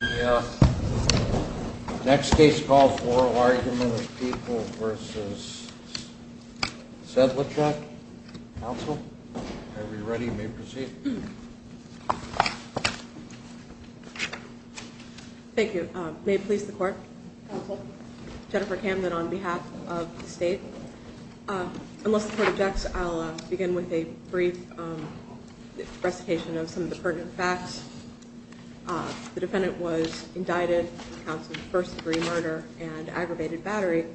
The next case calls for an oral argument of people v. Sedlacek. Counsel, are we ready? You may proceed. Thank you. May it please the court? Counsel? Jennifer Camden on behalf of the state. Unless the court objects, I'll begin with a brief recitation of some of the pertinent facts. The defendant was indicted on counts of first-degree murder and aggravated battery.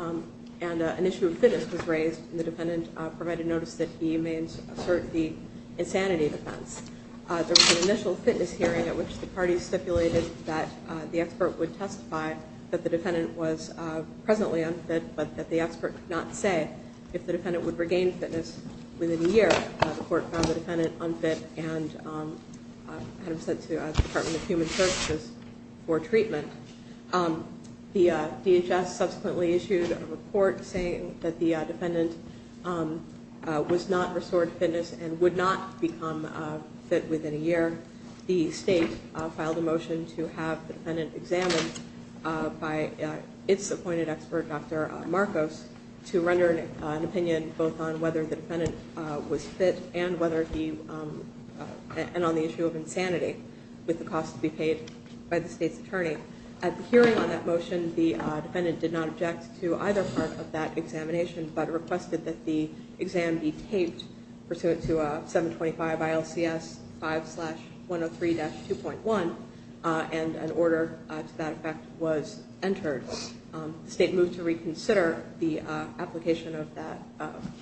An issue of fitness was raised, and the defendant provided notice that he may assert the insanity defense. There was an initial fitness hearing at which the parties stipulated that the expert would testify that the defendant was presently unfit, but that the expert could not say if the defendant would regain fitness within a year. The court found the defendant unfit and had him sent to the Department of Human Services for treatment. The DHS subsequently issued a report saying that the defendant was not restored to fitness and would not become fit within a year. The state filed a motion to have the defendant examined by its appointed expert, Dr. Marcos, to render an opinion both on whether the defendant was fit and on the issue of insanity, with the cost to be paid by the state's attorney. At the hearing on that motion, the defendant did not object to either part of that examination, but requested that the exam be taped pursuant to 725 ILCS 5-103-2.1, and an order to that effect was entered. The state moved to reconsider the application of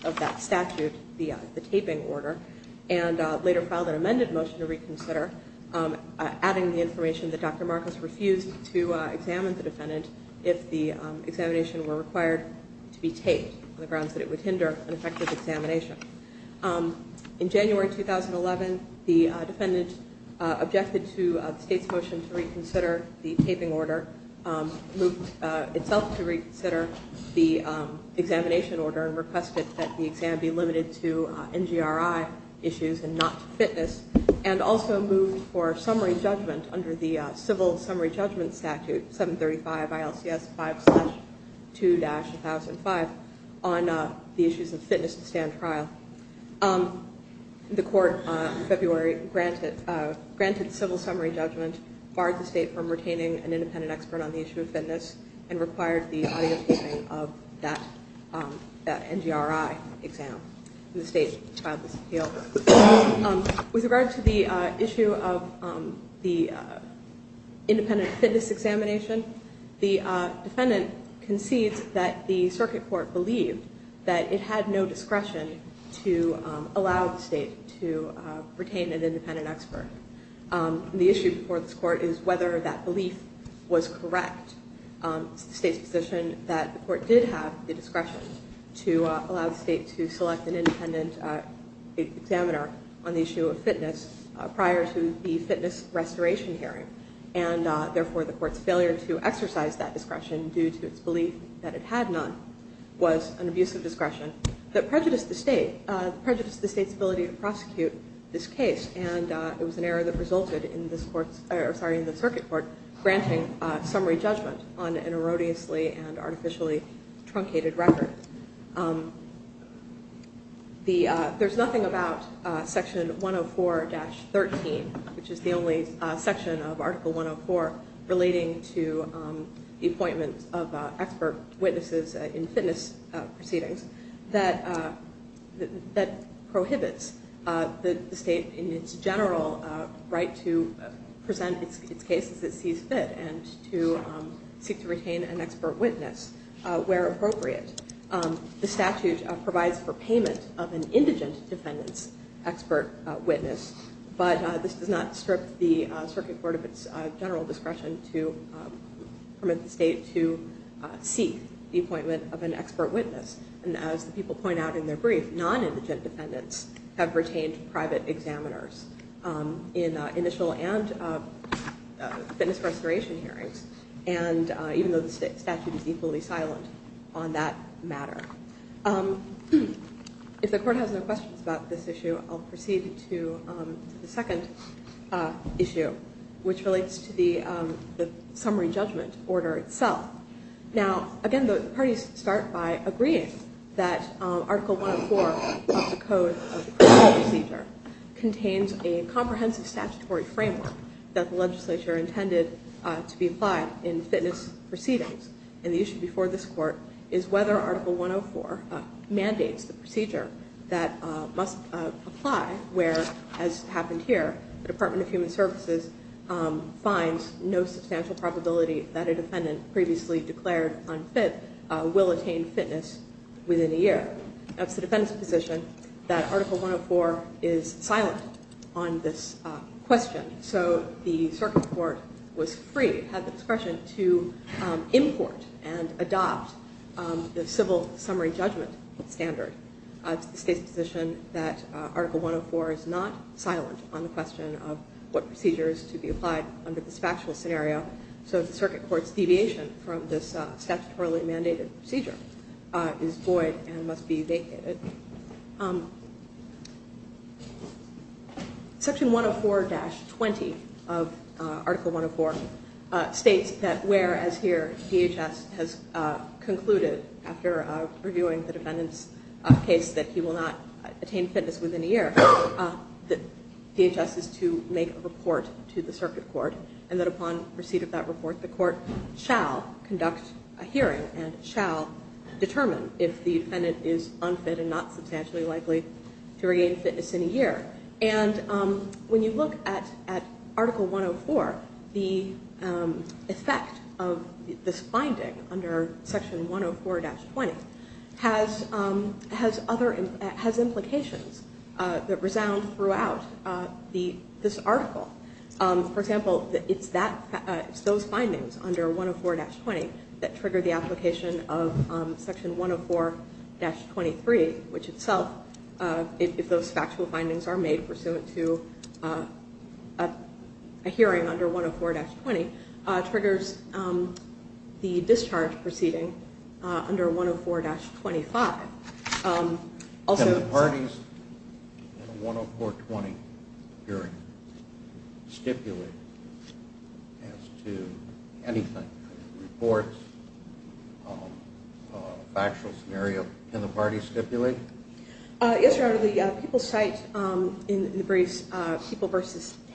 that statute, the taping order, and later filed an amended motion to reconsider, adding the information that Dr. Marcos refused to examine the defendant if the examination were required to be taped on the grounds that it would hinder an effective examination. In January 2011, the defendant objected to the state's motion to reconsider the taping order, moved itself to reconsider the examination order and requested that the exam be limited to NGRI issues and not fitness, and also moved for summary judgment under the civil summary judgment statute, 735 ILCS 5-2-1005, on the issues of fitness and stand trial. The Court in February granted civil summary judgment, barred the state from retaining an independent expert on the issue of fitness, and required the audio taping of that NGRI exam, and the state filed this appeal. With regard to the issue of the independent fitness examination, the defendant concedes that the Circuit Court believed that it had no discretion to allow the state to retain an independent expert. The issue before this Court is whether that belief was correct. It's the state's position that the Court did have the discretion to allow the state to select an independent examiner on the issue of fitness prior to the fitness restoration hearing, and therefore the Court's failure to exercise that discretion due to its belief that it had none was an abuse of discretion that prejudiced the state's ability to prosecute this case, and it was an error that resulted in the Circuit Court granting summary judgment on an erroneously and artificially truncated record. There's nothing about Section 104-13, which is the only section of Article 104, relating to the appointment of expert witnesses in fitness proceedings, that prohibits the state in its general right to present its case as it sees fit, and to seek to retain an expert witness where appropriate. The statute provides for payment of an indigent defendant's expert witness, but this does not strip the Circuit Court of its general discretion to permit the state to seek the appointment of an expert witness. And as the people point out in their brief, non-indigent defendants have retained private examiners in initial and fitness restoration hearings, even though the statute is equally silent on that matter. If the Court has no questions about this issue, I'll proceed to the second issue, which relates to the summary judgment order itself. Now, again, the parties start by agreeing that Article 104 of the Code of the Procedure contains a comprehensive statutory framework that the legislature intended to be applied in fitness proceedings. And the issue before this Court is whether Article 104 mandates the procedure that must apply, where, as happened here, the Department of Human Services finds no substantial probability that a defendant previously declared unfit will attain fitness within a year. That's the defendant's position that Article 104 is silent on this question. So the Circuit Court was free, had the discretion to import and adopt the civil summary judgment standard. It's the state's position that Article 104 is not silent on the question of what procedure is to be applied under this factual scenario. So the Circuit Court's deviation from this statutorily mandated procedure is void and must be vacated. Section 104-20 of Article 104 states that where, as here, DHS has concluded, after reviewing the defendant's case that he will not attain fitness within a year, that DHS is to make a report to the Circuit Court, and that upon receipt of that report, the Court shall conduct a hearing and shall determine if the defendant is unfit and not substantially likely to regain fitness in a year. And when you look at Article 104, the effect of this finding under Section 104-20 has implications that resound throughout this article. For example, it's those findings under 104-20 that trigger the application of Section 104-23, which itself, if those factual findings are made pursuant to a hearing under 104-20, triggers the discharge proceeding under 104-25. Can the parties in a 104-20 hearing stipulate as to anything, reports, factual scenario? Can the parties stipulate? Yes, Your Honor. The People's site in the briefs, People v.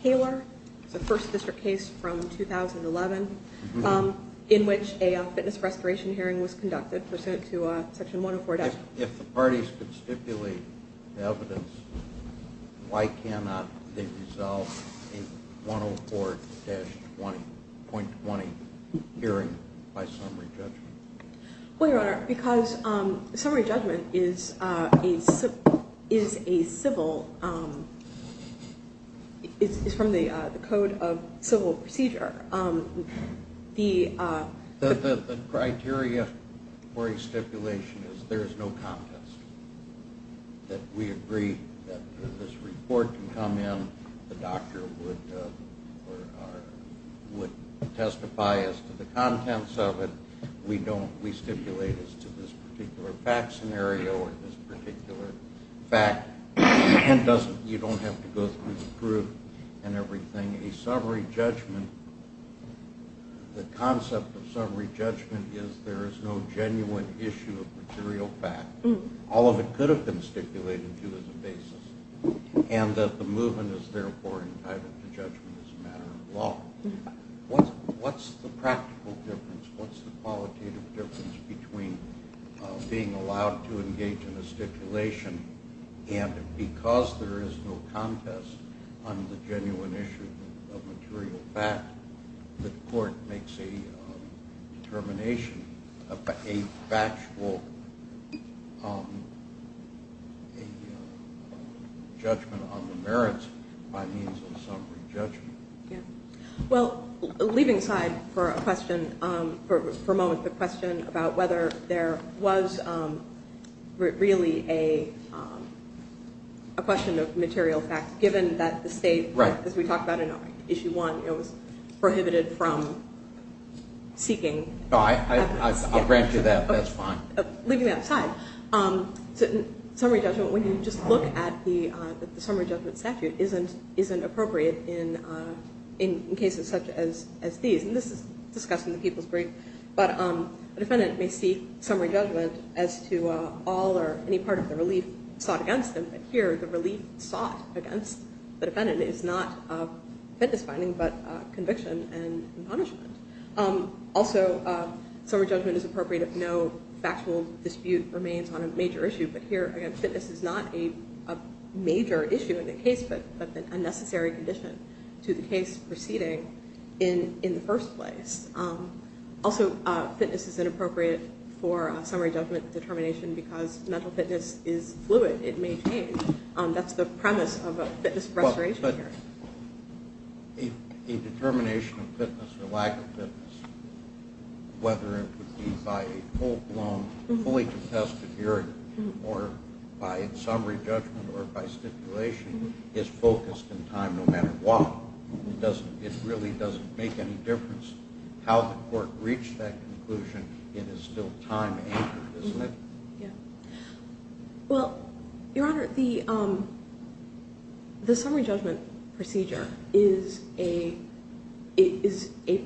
Taylor, the first district case from 2011, in which a fitness restoration hearing was conducted pursuant to Section 104-20. If the parties could stipulate evidence, why cannot they resolve a 104-20 hearing by summary judgment? Well, Your Honor, because summary judgment is a civil, is from the Code of Civil Procedure. The criteria for a stipulation is there is no contest. That we agree that this report can come in, the doctor would testify as to the contents of it. We stipulate as to this particular fact scenario or this particular fact, and you don't have to go through the proof and everything. A summary judgment, the concept of summary judgment is there is no genuine issue of material fact. All of it could have been stipulated to as a basis, and that the movement is therefore entitled to judgment as a matter of law. What's the practical difference? What's the qualitative difference between being allowed to engage in a stipulation and because there is no contest on the genuine issue of material fact, the court makes a determination, a factual judgment on the merits by means of summary judgment. Well, leaving aside for a question, for a moment, the question about whether there was really a question of material fact, given that the state, as we talked about in Issue 1, it was prohibited from seeking. No, I'll grant you that. That's fine. Leaving that aside, summary judgment, when you just look at the summary judgment statute, isn't appropriate in cases such as these, and this is discussed in the People's Brief, but a defendant may seek summary judgment as to all or any part of the relief sought against them, but here the relief sought against the defendant is not fitness finding, but conviction and punishment. Also, summary judgment is appropriate if no factual dispute remains on a major issue, but here, again, fitness is not a major issue in the case, but an unnecessary condition to the case proceeding in the first place. Also, fitness is inappropriate for summary judgment determination because mental fitness is fluid. It may change. That's the premise of a fitness restoration hearing. A determination of fitness or lack of fitness, whether it would be by a full-blown, fully contested hearing or by a summary judgment or by stipulation, is focused in time no matter what. It really doesn't make any difference how the court reached that conclusion. It is still time after this hearing. Well, Your Honor, the summary judgment procedure is a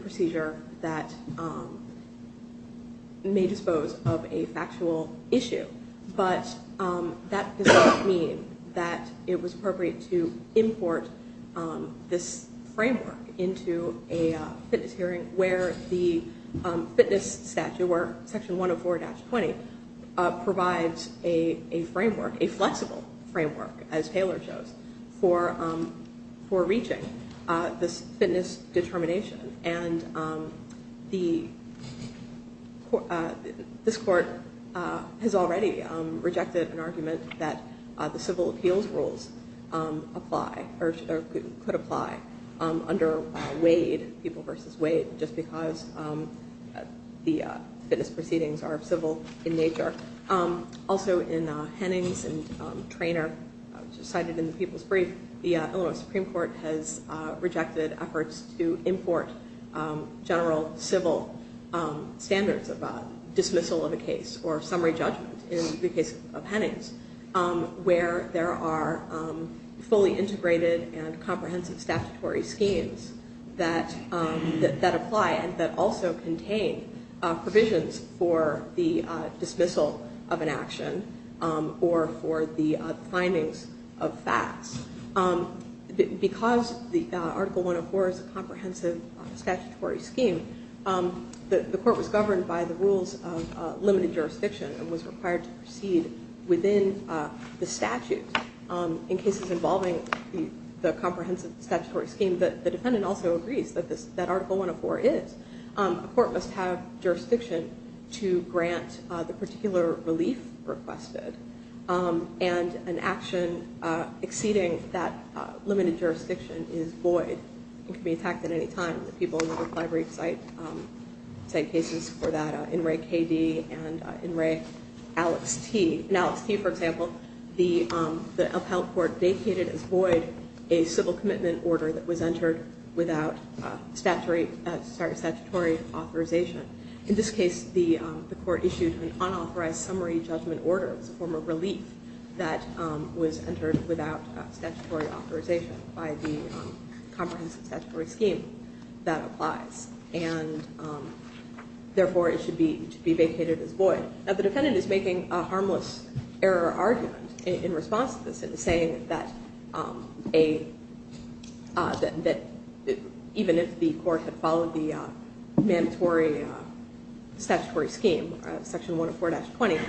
procedure that may dispose of a factual issue, but that does not mean that it was appropriate to import this framework into a fitness hearing where the fitness statute or Section 104-20 provides a framework, a flexible framework, as Taylor shows, for reaching this fitness determination. And this court has already rejected an argument that the civil appeals rules apply or could apply under Wade, People v. Wade, just because the fitness proceedings are civil in nature. Also, in Hennings and Trainor, cited in the People's Brief, the Illinois Supreme Court has rejected efforts to import general civil standards about dismissal of a case or summary judgment in the case of Hennings where there are fully integrated and comprehensive statutory schemes that apply and that also contain provisions for the dismissal of an action or for the findings of facts. Because Article 104 is a comprehensive statutory scheme, the court was governed by the rules of limited jurisdiction and was required to proceed within the statute. In cases involving the comprehensive statutory scheme, the defendant also agrees that Article 104 is. The court must have jurisdiction to grant the particular relief requested and an action exceeding that limited jurisdiction is void and can be attacked at any time. The people in the library cite cases for that. In Ray K.D. and in Ray Alex T. In Alex T., for example, the appellate court vacated as void a civil commitment order that was entered without statutory authorization. In this case, the court issued an unauthorized summary judgment order as a form of relief that was entered without statutory authorization by the comprehensive statutory scheme that applies. And therefore, it should be vacated as void. Now, the defendant is making a harmless error argument in response to this and saying that even if the court had followed the mandatory statutory scheme, Section 104-20,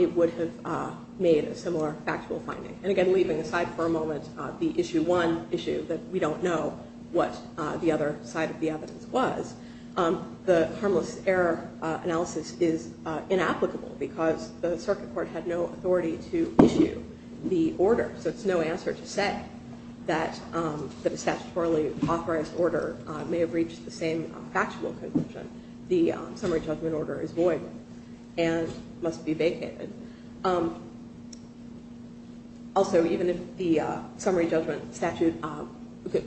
it would have made a similar factual finding. And again, leaving aside for a moment the Issue 1 issue, that we don't know what the other side of the evidence was, the harmless error analysis is inapplicable because the circuit court had no authority to issue the order. So it's no answer to say that a statutorily authorized order may have reached the same factual conclusion. The summary judgment order is void and must be vacated. Also, even if the summary judgment statute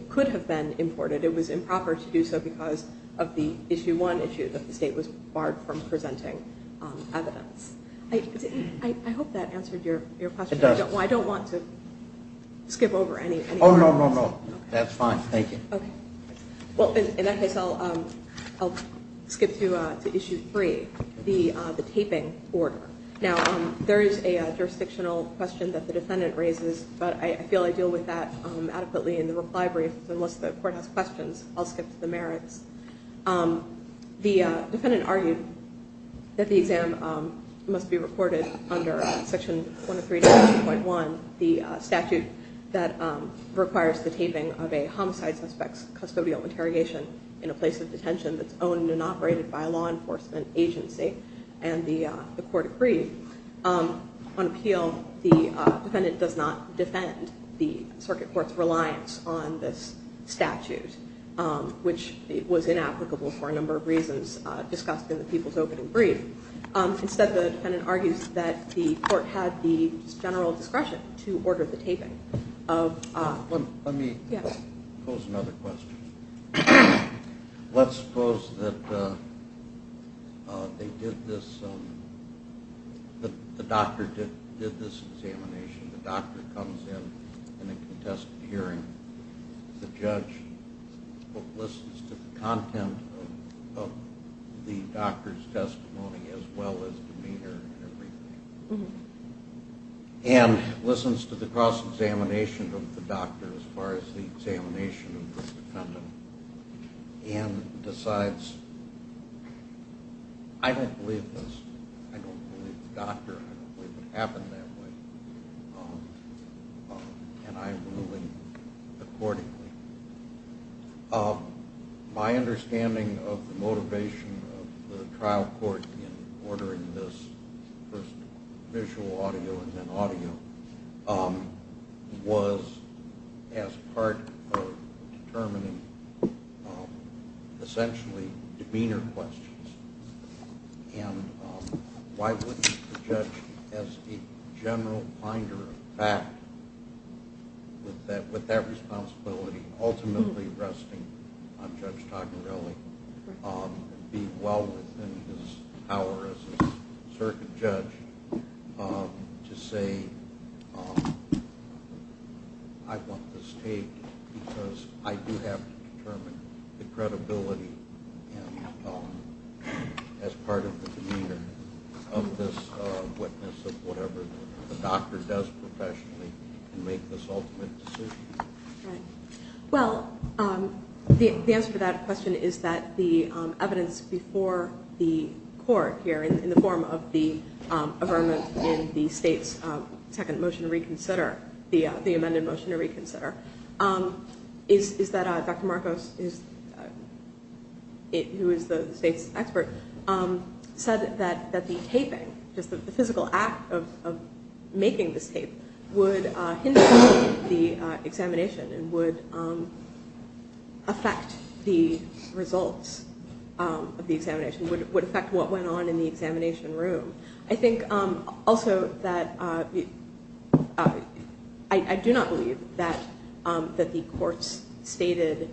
could have been imported, it was improper to do so because of the Issue 1 issue that the state was barred from presenting evidence. I hope that answered your question. It does. Well, I don't want to skip over any other questions. Oh, no, no, no. That's fine. Thank you. Okay. Well, in that case, I'll skip to Issue 3, the taping order. Now, there is a jurisdictional question that the defendant raises, but I feel I deal with that adequately in the reply brief. Unless the court has questions, I'll skip to the merits. The defendant argued that the exam must be recorded under Section 103.1, the statute that requires the taping of a homicide suspect's custodial interrogation in a place of detention that's owned and operated by a law enforcement agency. And the court agreed. On appeal, the defendant does not defend the circuit court's reliance on this statute, which was inapplicable for a number of reasons discussed in the people's opening brief. Instead, the defendant argues that the court had the general discretion to order the taping. Let me pose another question. Let's suppose that the doctor did this examination. The doctor comes in in a contested hearing. The judge listens to the content of the doctor's testimony as well as demeanor and everything and listens to the cross-examination of the doctor as far as the examination of the defendant and decides, I don't believe this. I don't believe the doctor. I don't believe it happened that way. And I'm ruling accordingly. My understanding of the motivation of the trial court in ordering this first visual audio and then audio was as part of determining essentially demeanor questions. And why wouldn't the judge, as a general finder of fact, with that responsibility, ultimately resting on Judge Tagarelli, be well within his power as a circuit judge to say, I want this taped because I do have to determine the credibility as part of the demeanor of this witness of whatever the doctor does professionally and make this ultimate decision? Right. Well, the answer to that question is that the evidence before the court here in the form of the affirmance in the state's second motion to reconsider, the amended motion to reconsider, is that Dr. Marcos, who is the state's expert, said that the taping, just the physical act of making this tape, would hinder the examination and would affect the results of the examination, would affect what went on in the examination room. I think also that I do not believe that the court's stated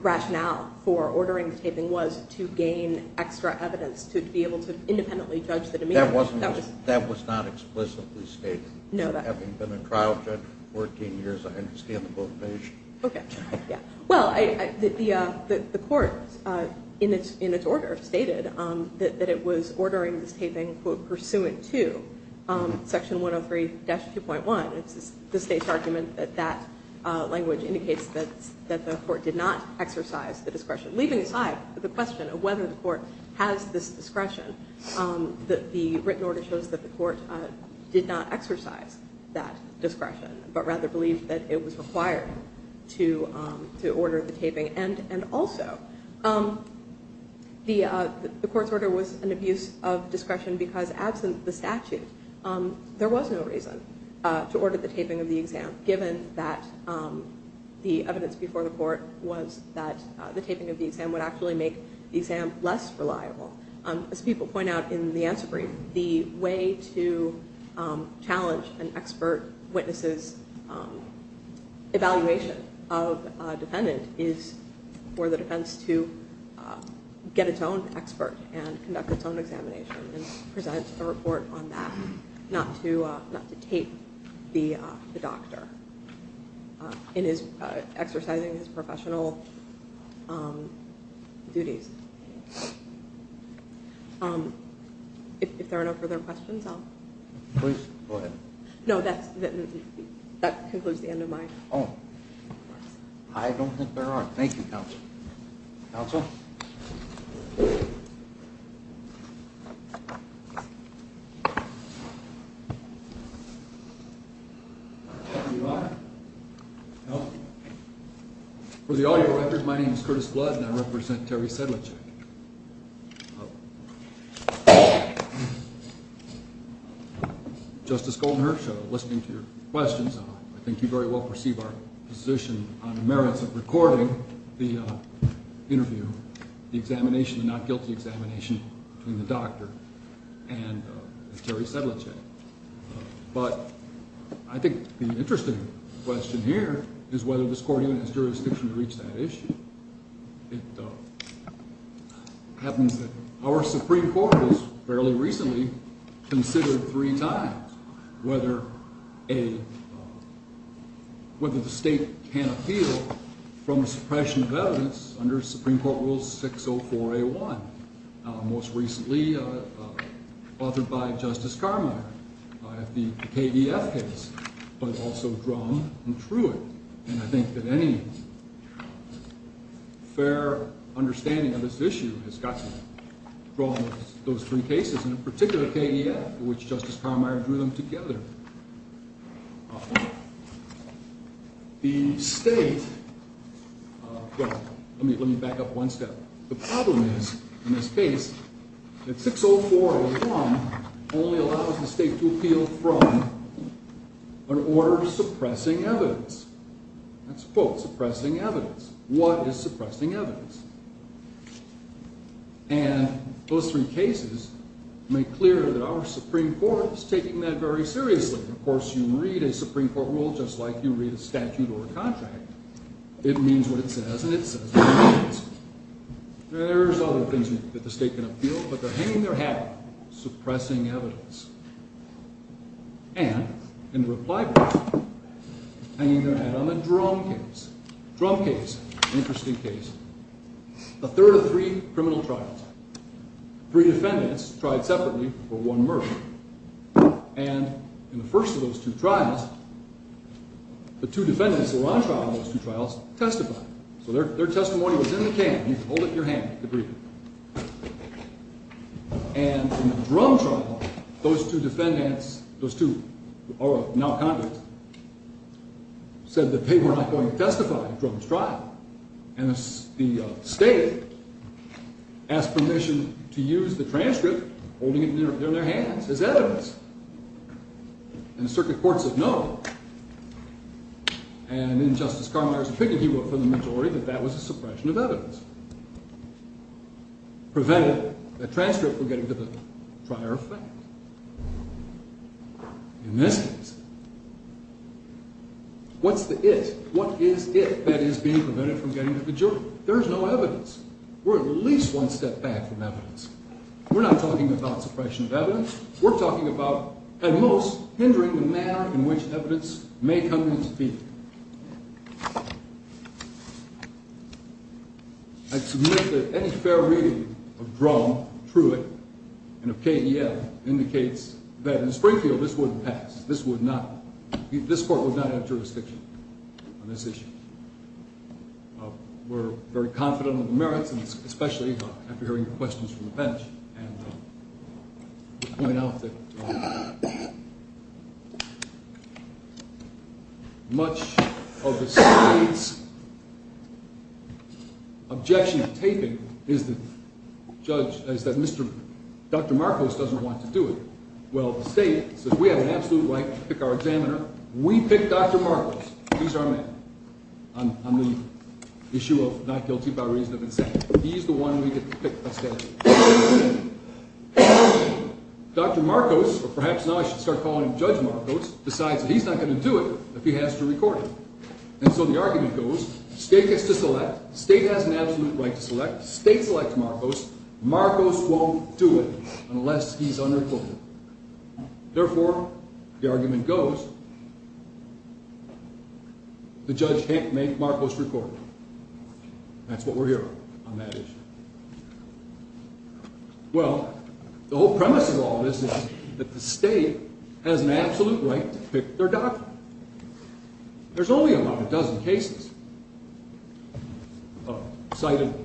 rationale for ordering the taping was to gain extra evidence to be able to independently judge the demeanor. That was not explicitly stated. Having been a trial judge for 14 years, I understand the motivation. Okay. Well, the court, in its order, stated that it was ordering this taping, quote, pursuant to Section 103-2.1. It's the state's argument that that language indicates that the court did not exercise the discretion. Leaving aside the question of whether the court has this discretion, the written order shows that the court did not exercise that discretion, but rather believed that it was required to order the taping. And also, the court's order was an abuse of discretion because, absent the statute, there was no reason to order the taping of the exam, given that the evidence before the court was that the taping of the exam would actually make the exam less reliable. As people point out in the answer brief, the way to challenge an expert witness' evaluation of a defendant is for the defense to get its own expert and conduct its own examination and present a report on that, not to tape the doctor. And is exercising his professional duties. If there are no further questions, I'll... Please, go ahead. No, that concludes the end of my... Oh. I don't think there are. Thank you, Counsel. Counsel? For the audio record, my name is Curtis Blood, and I represent Terry Sedlicek. Oh. Justice Goldenherzsch, listening to your questions, I think you very well perceive our position on the merits of recording the interview. The examination, the not guilty examination between the doctor and Terry Sedlicek. But I think the interesting question here is whether this court even has jurisdiction to reach that issue. It happens that our Supreme Court has fairly recently considered three times whether the state can appeal from the suppression of evidence under Supreme Court Rule 604A1. Most recently, authored by Justice Carmier, the KDF case, but also Drum and Truitt. And I think that any fair understanding of this issue has got to draw on those three cases, and in particular, KDF, for which Justice Carmier drew them together. The state... Well, let me back up one step. The problem is, in this case, that 604A1 only allows the state to appeal from an order suppressing evidence. That's, quote, suppressing evidence. What is suppressing evidence? And those three cases make clear that our Supreme Court is taking that very seriously. Of course, you read a Supreme Court rule just like you read a statute or a contract. It means what it says, and it says what it means. There's other things that the state can appeal, but they're hanging their hat, suppressing evidence. And, in reply, they're hanging their hat on the Drum case. Drum case, an interesting case. The third of three criminal trials, three defendants tried separately for one murder. And in the first of those two trials, the two defendants who were on trial in those two trials testified. So their testimony was in the can. You can hold it in your hand. You can breathe it. And in the Drum trial, those two defendants, those two who are now convicts, said that they were not going to testify in Drum's trial. And the state asked permission to use the transcript, holding it in their hands, as evidence. And the circuit court said no. And then Justice Carminer's opinion, he wrote for the majority, that that was a suppression of evidence. Prevented the transcript from getting to the prior offense. In this case, what's the it? What is it that is being prevented from getting to the jury? There's no evidence. We're at least one step back from evidence. We're not talking about suppression of evidence. We're talking about, at most, hindering the manner in which evidence may come into being. I submit that any fair reading of Drum, Pruitt, and of KDL indicates that in Springfield, this wouldn't pass. This court would not have jurisdiction on this issue. We're very confident of the merits, especially after hearing the questions from the bench. And to point out that much of the state's objection to taping is that Dr. Marcos doesn't want to do it. Well, the state says we have an absolute right to pick our examiner. We picked Dr. Marcos. He's our man on the issue of not guilty by reason of insanity. He's the one we get to pick. Dr. Marcos, or perhaps now I should start calling him Judge Marcos, decides that he's not going to do it if he has to record it. And so the argument goes, state gets to select. State has an absolute right to select. State selects Marcos. Marcos won't do it unless he's unrecorded. Therefore, the argument goes, the judge can't make Marcos record. That's what we're here on, on that issue. Well, the whole premise of all this is that the state has an absolute right to pick their doctor. There's only about a dozen cases citing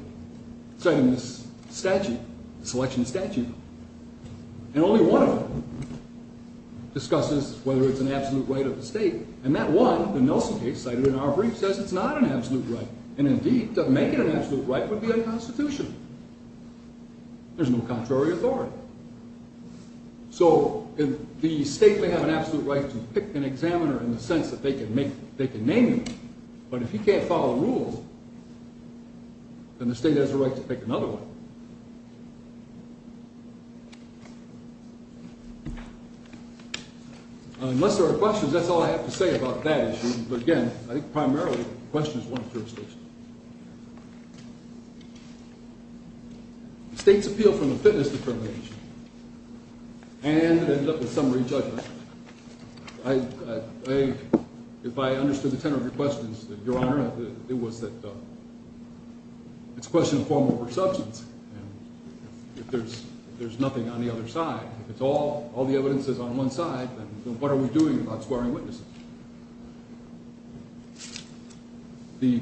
this statute, the selection statute. And only one of them discusses whether it's an absolute right of the state. And that one, the Nelson case cited in our brief, says it's not an absolute right. And indeed, to make it an absolute right would be unconstitutional. There's no contrary authority. So the state may have an absolute right to pick an examiner in the sense that they can name him. But if he can't follow rules, then the state has a right to pick another one. Unless there are questions, that's all I have to say about that issue. But again, I think primarily the question is one of jurisdiction. The state's appeal from a fitness determination. And it ended up with summary judgment. If I understood the tenor of your questions, Your Honor, it was that it's a question of formal or substance. And if there's nothing on the other side, if all the evidence is on one side, then what are we doing about squaring witnesses? The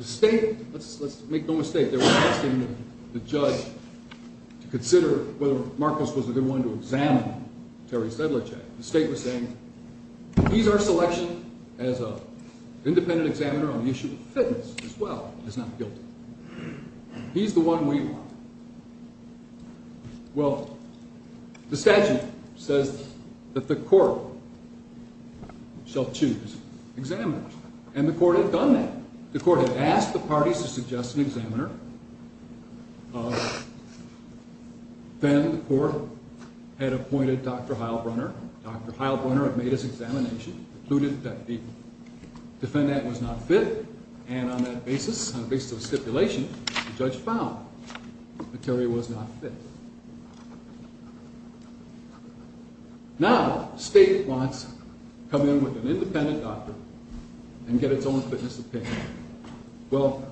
state, let's make no mistake, they were asking the judge to consider whether Marcus was a good one to examine Terry Sedlacek. The state was saying, he's our selection as an independent examiner on the issue of fitness as well. He's not guilty. He's the one we want. Well, the statute says that the court shall choose examiners. And the court had done that. The court had asked the parties to suggest an examiner. Then the court had appointed Dr. Heilbrunner. Dr. Heilbrunner had made his examination, concluded that the defendant was not fit. And on that basis, on the basis of stipulation, the judge found that Terry was not fit. Now, the state wants to come in with an independent doctor and get its own fitness opinion. Well,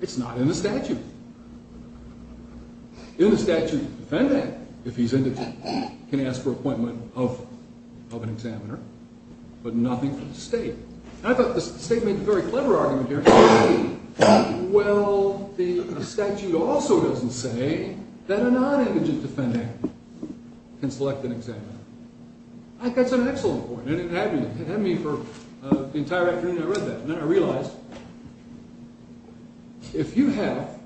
it's not in the statute. In the statute, the defendant, if he's independent, can ask for appointment of an examiner, but nothing from the state. And I thought the state made a very clever argument here. Well, the statute also doesn't say that a non-indigent defendant can select an examiner. That's an excellent point. It had me for the entire afternoon I read that. And then I realized, if you have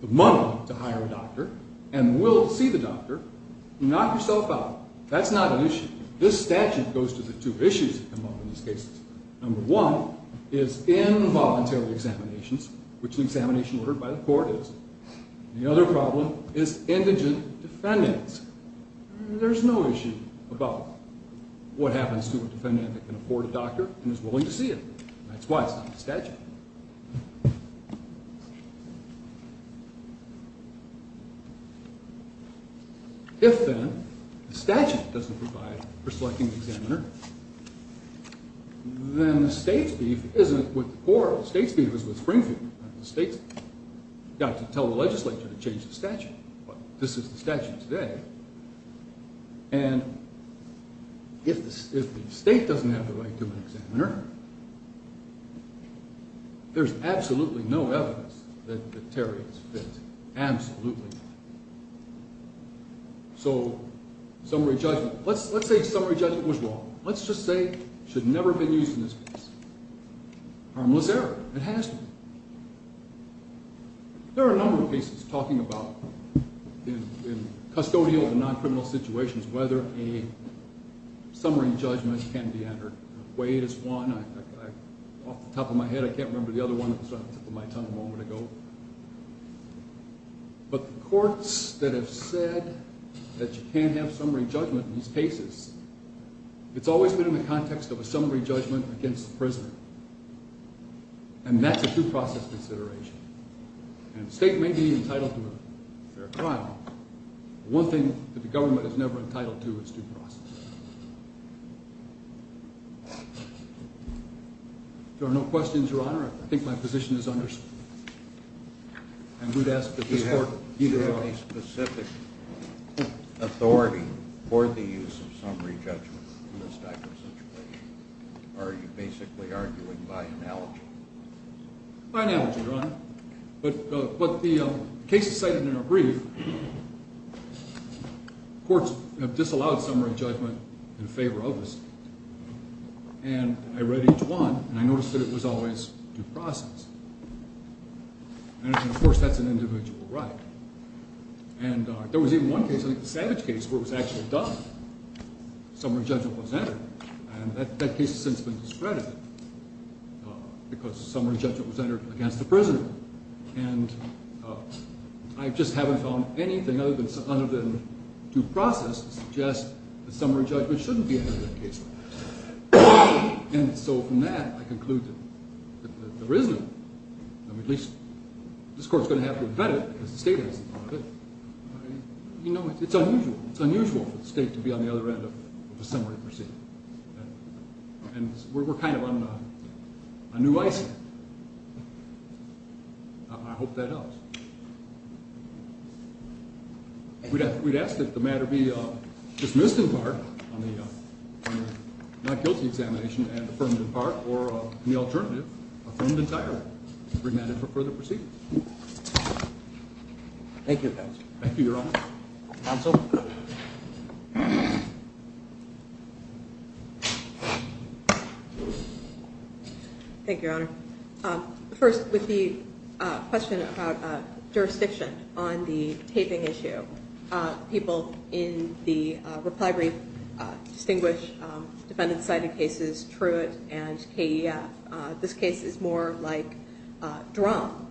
the money to hire a doctor and will see the doctor, knock yourself out. That's not an issue. This statute goes to the two issues that come up in these cases. Number one is involuntary examinations, which the examination ordered by the court is. The other problem is indigent defendants. There's no issue about what happens to a defendant that can afford a doctor and is willing to see him. If, then, the statute doesn't provide for selecting an examiner, then the state's beef isn't with the court. The state's beef is with Springfield. The state's got to tell the legislature to change the statute. But this is the statute today. And if the state doesn't have the right to an examiner, there's absolutely no evidence that Terry is fit. Absolutely not. So summary judgment. Let's say summary judgment was wrong. Let's just say it should never have been used in this case. Harmless error. It has been. There are a number of cases talking about, in custodial and non-criminal situations, whether a summary judgment can be entered. Wade is one. Off the top of my head, I can't remember the other one that was on the tip of my tongue a moment ago. But the courts that have said that you can't have summary judgment in these cases, it's always been in the context of a summary judgment against the prisoner. And that's a due process consideration. And the state may be entitled to a fair trial. But one thing that the government is never entitled to is due process. If there are no questions, Your Honor, I think my position is understood. And we'd ask that this court either— Do you have any specific authority for the use of summary judgment in this type of situation? Or are you basically arguing by analogy? By analogy, Your Honor. But the cases cited in our brief, courts have disallowed summary judgment in favor of us. And I read each one, and I noticed that it was always due process. And, of course, that's an individual right. And there was even one case, I think the Savage case, where it was actually done. Summary judgment was entered. And that case has since been discredited because summary judgment was entered against the prisoner. And I just haven't found anything other than due process to suggest that summary judgment shouldn't be entered in a case like that. And so from that, I conclude that there isn't. At least this court's going to have to vet it because the state hasn't thought of it. You know, it's unusual for the state to be on the other end of a summary proceeding. And we're kind of on a new ice. I hope that helps. We'd ask that the matter be dismissed in part on the not guilty examination and affirmed in part, or, in the alternative, affirmed entirely and remanded for further proceedings. Thank you, counsel. Thank you, Your Honor. Thank you, Your Honor. First, with the question about jurisdiction on the taping issue, people in the reply brief distinguish defendant-sided cases, Truett and KEF. This case is more like DRUM,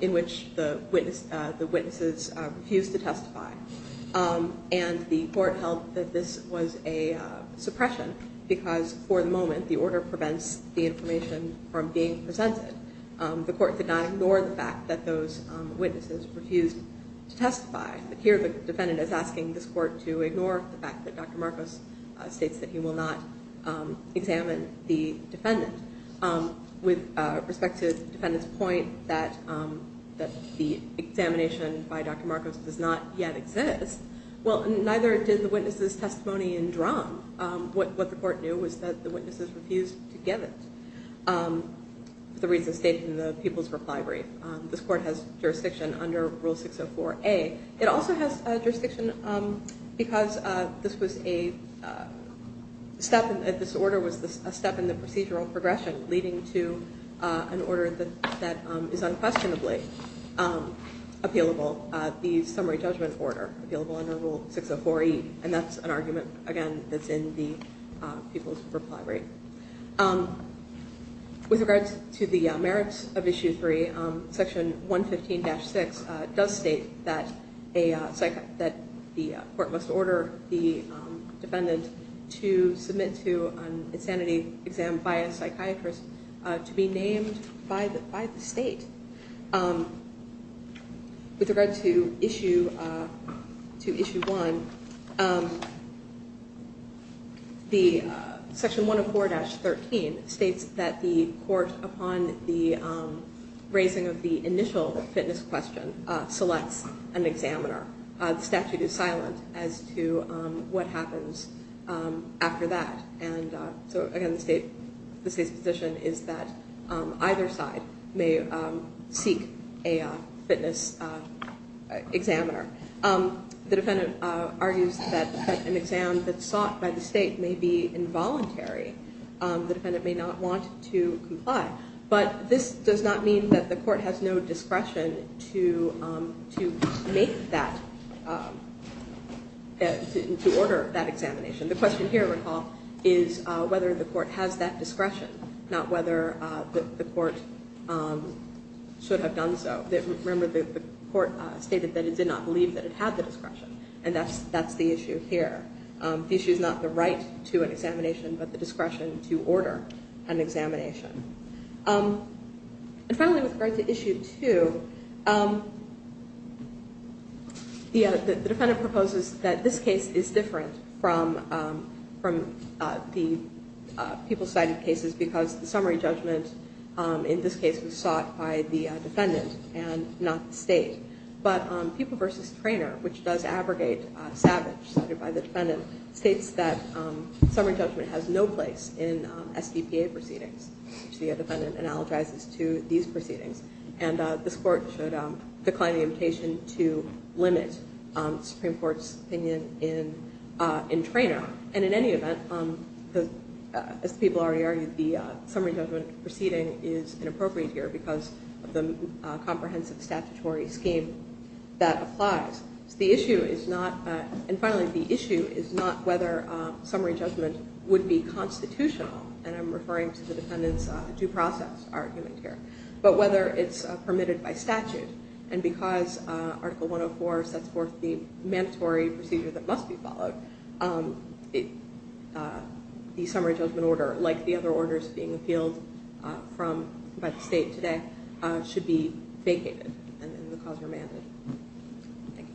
in which the witnesses refused to testify. And the court held that this was a suppression because, for the moment, the order prevents the information from being presented. The court did not ignore the fact that those witnesses refused to testify. Here, the defendant is asking this court to ignore the fact that Dr. Marcos states that he will not examine the defendant. With respect to the defendant's point that the examination by Dr. Marcos does not yet exist, well, neither did the witnesses' testimony in DRUM. What the court knew was that the witnesses refused to give it. The reason is stated in the people's reply brief. This court has jurisdiction under Rule 604A. It also has jurisdiction because this order was a step in the procedural progression, leading to an order that is unquestionably appealable, the summary judgment order, appealable under Rule 604E, and that's an argument, again, that's in the people's reply brief. With regards to the merits of Issue 3, Section 115-6 does state that the court must order the defendant to submit to an insanity exam by a psychiatrist to be named by the state. With regard to Issue 1, Section 104-13 states that the court, upon the raising of the initial fitness question, selects an examiner. The statute is silent as to what happens after that. Again, the state's position is that either side may seek a fitness examiner. The defendant argues that an exam that's sought by the state may be involuntary. The defendant may not want to comply. But this does not mean that the court has no discretion to make that, to order that examination. The question here, recall, is whether the court has that discretion, not whether the court should have done so. Remember, the court stated that it did not believe that it had the discretion, and that's the issue here. The issue is not the right to an examination, but the discretion to order an examination. And finally, with regard to Issue 2, the defendant proposes that this case is different from the people-cited cases because the summary judgment in this case was sought by the defendant and not the state. But People v. Trainer, which does abrogate Savage, cited by the defendant, states that summary judgment has no place in SBPA proceedings, which the defendant analogizes to these proceedings. And this court should decline the invitation to limit the Supreme Court's opinion in Trainer. And in any event, as the people already argued, the summary judgment proceeding is inappropriate here because of the comprehensive statutory scheme that applies. And finally, the issue is not whether summary judgment would be constitutional, and I'm referring to the defendant's due process argument here, but whether it's permitted by statute. And because Article 104 sets forth the mandatory procedure that must be followed, the summary judgment order, like the other orders being appealed by the state today, should be vacated and the cause remanded. Thank you.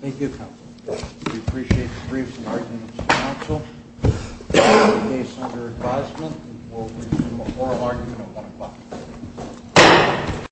Thank you, counsel. We appreciate the briefs and arguments of counsel. The case under advisement will resume a oral argument at 1 o'clock.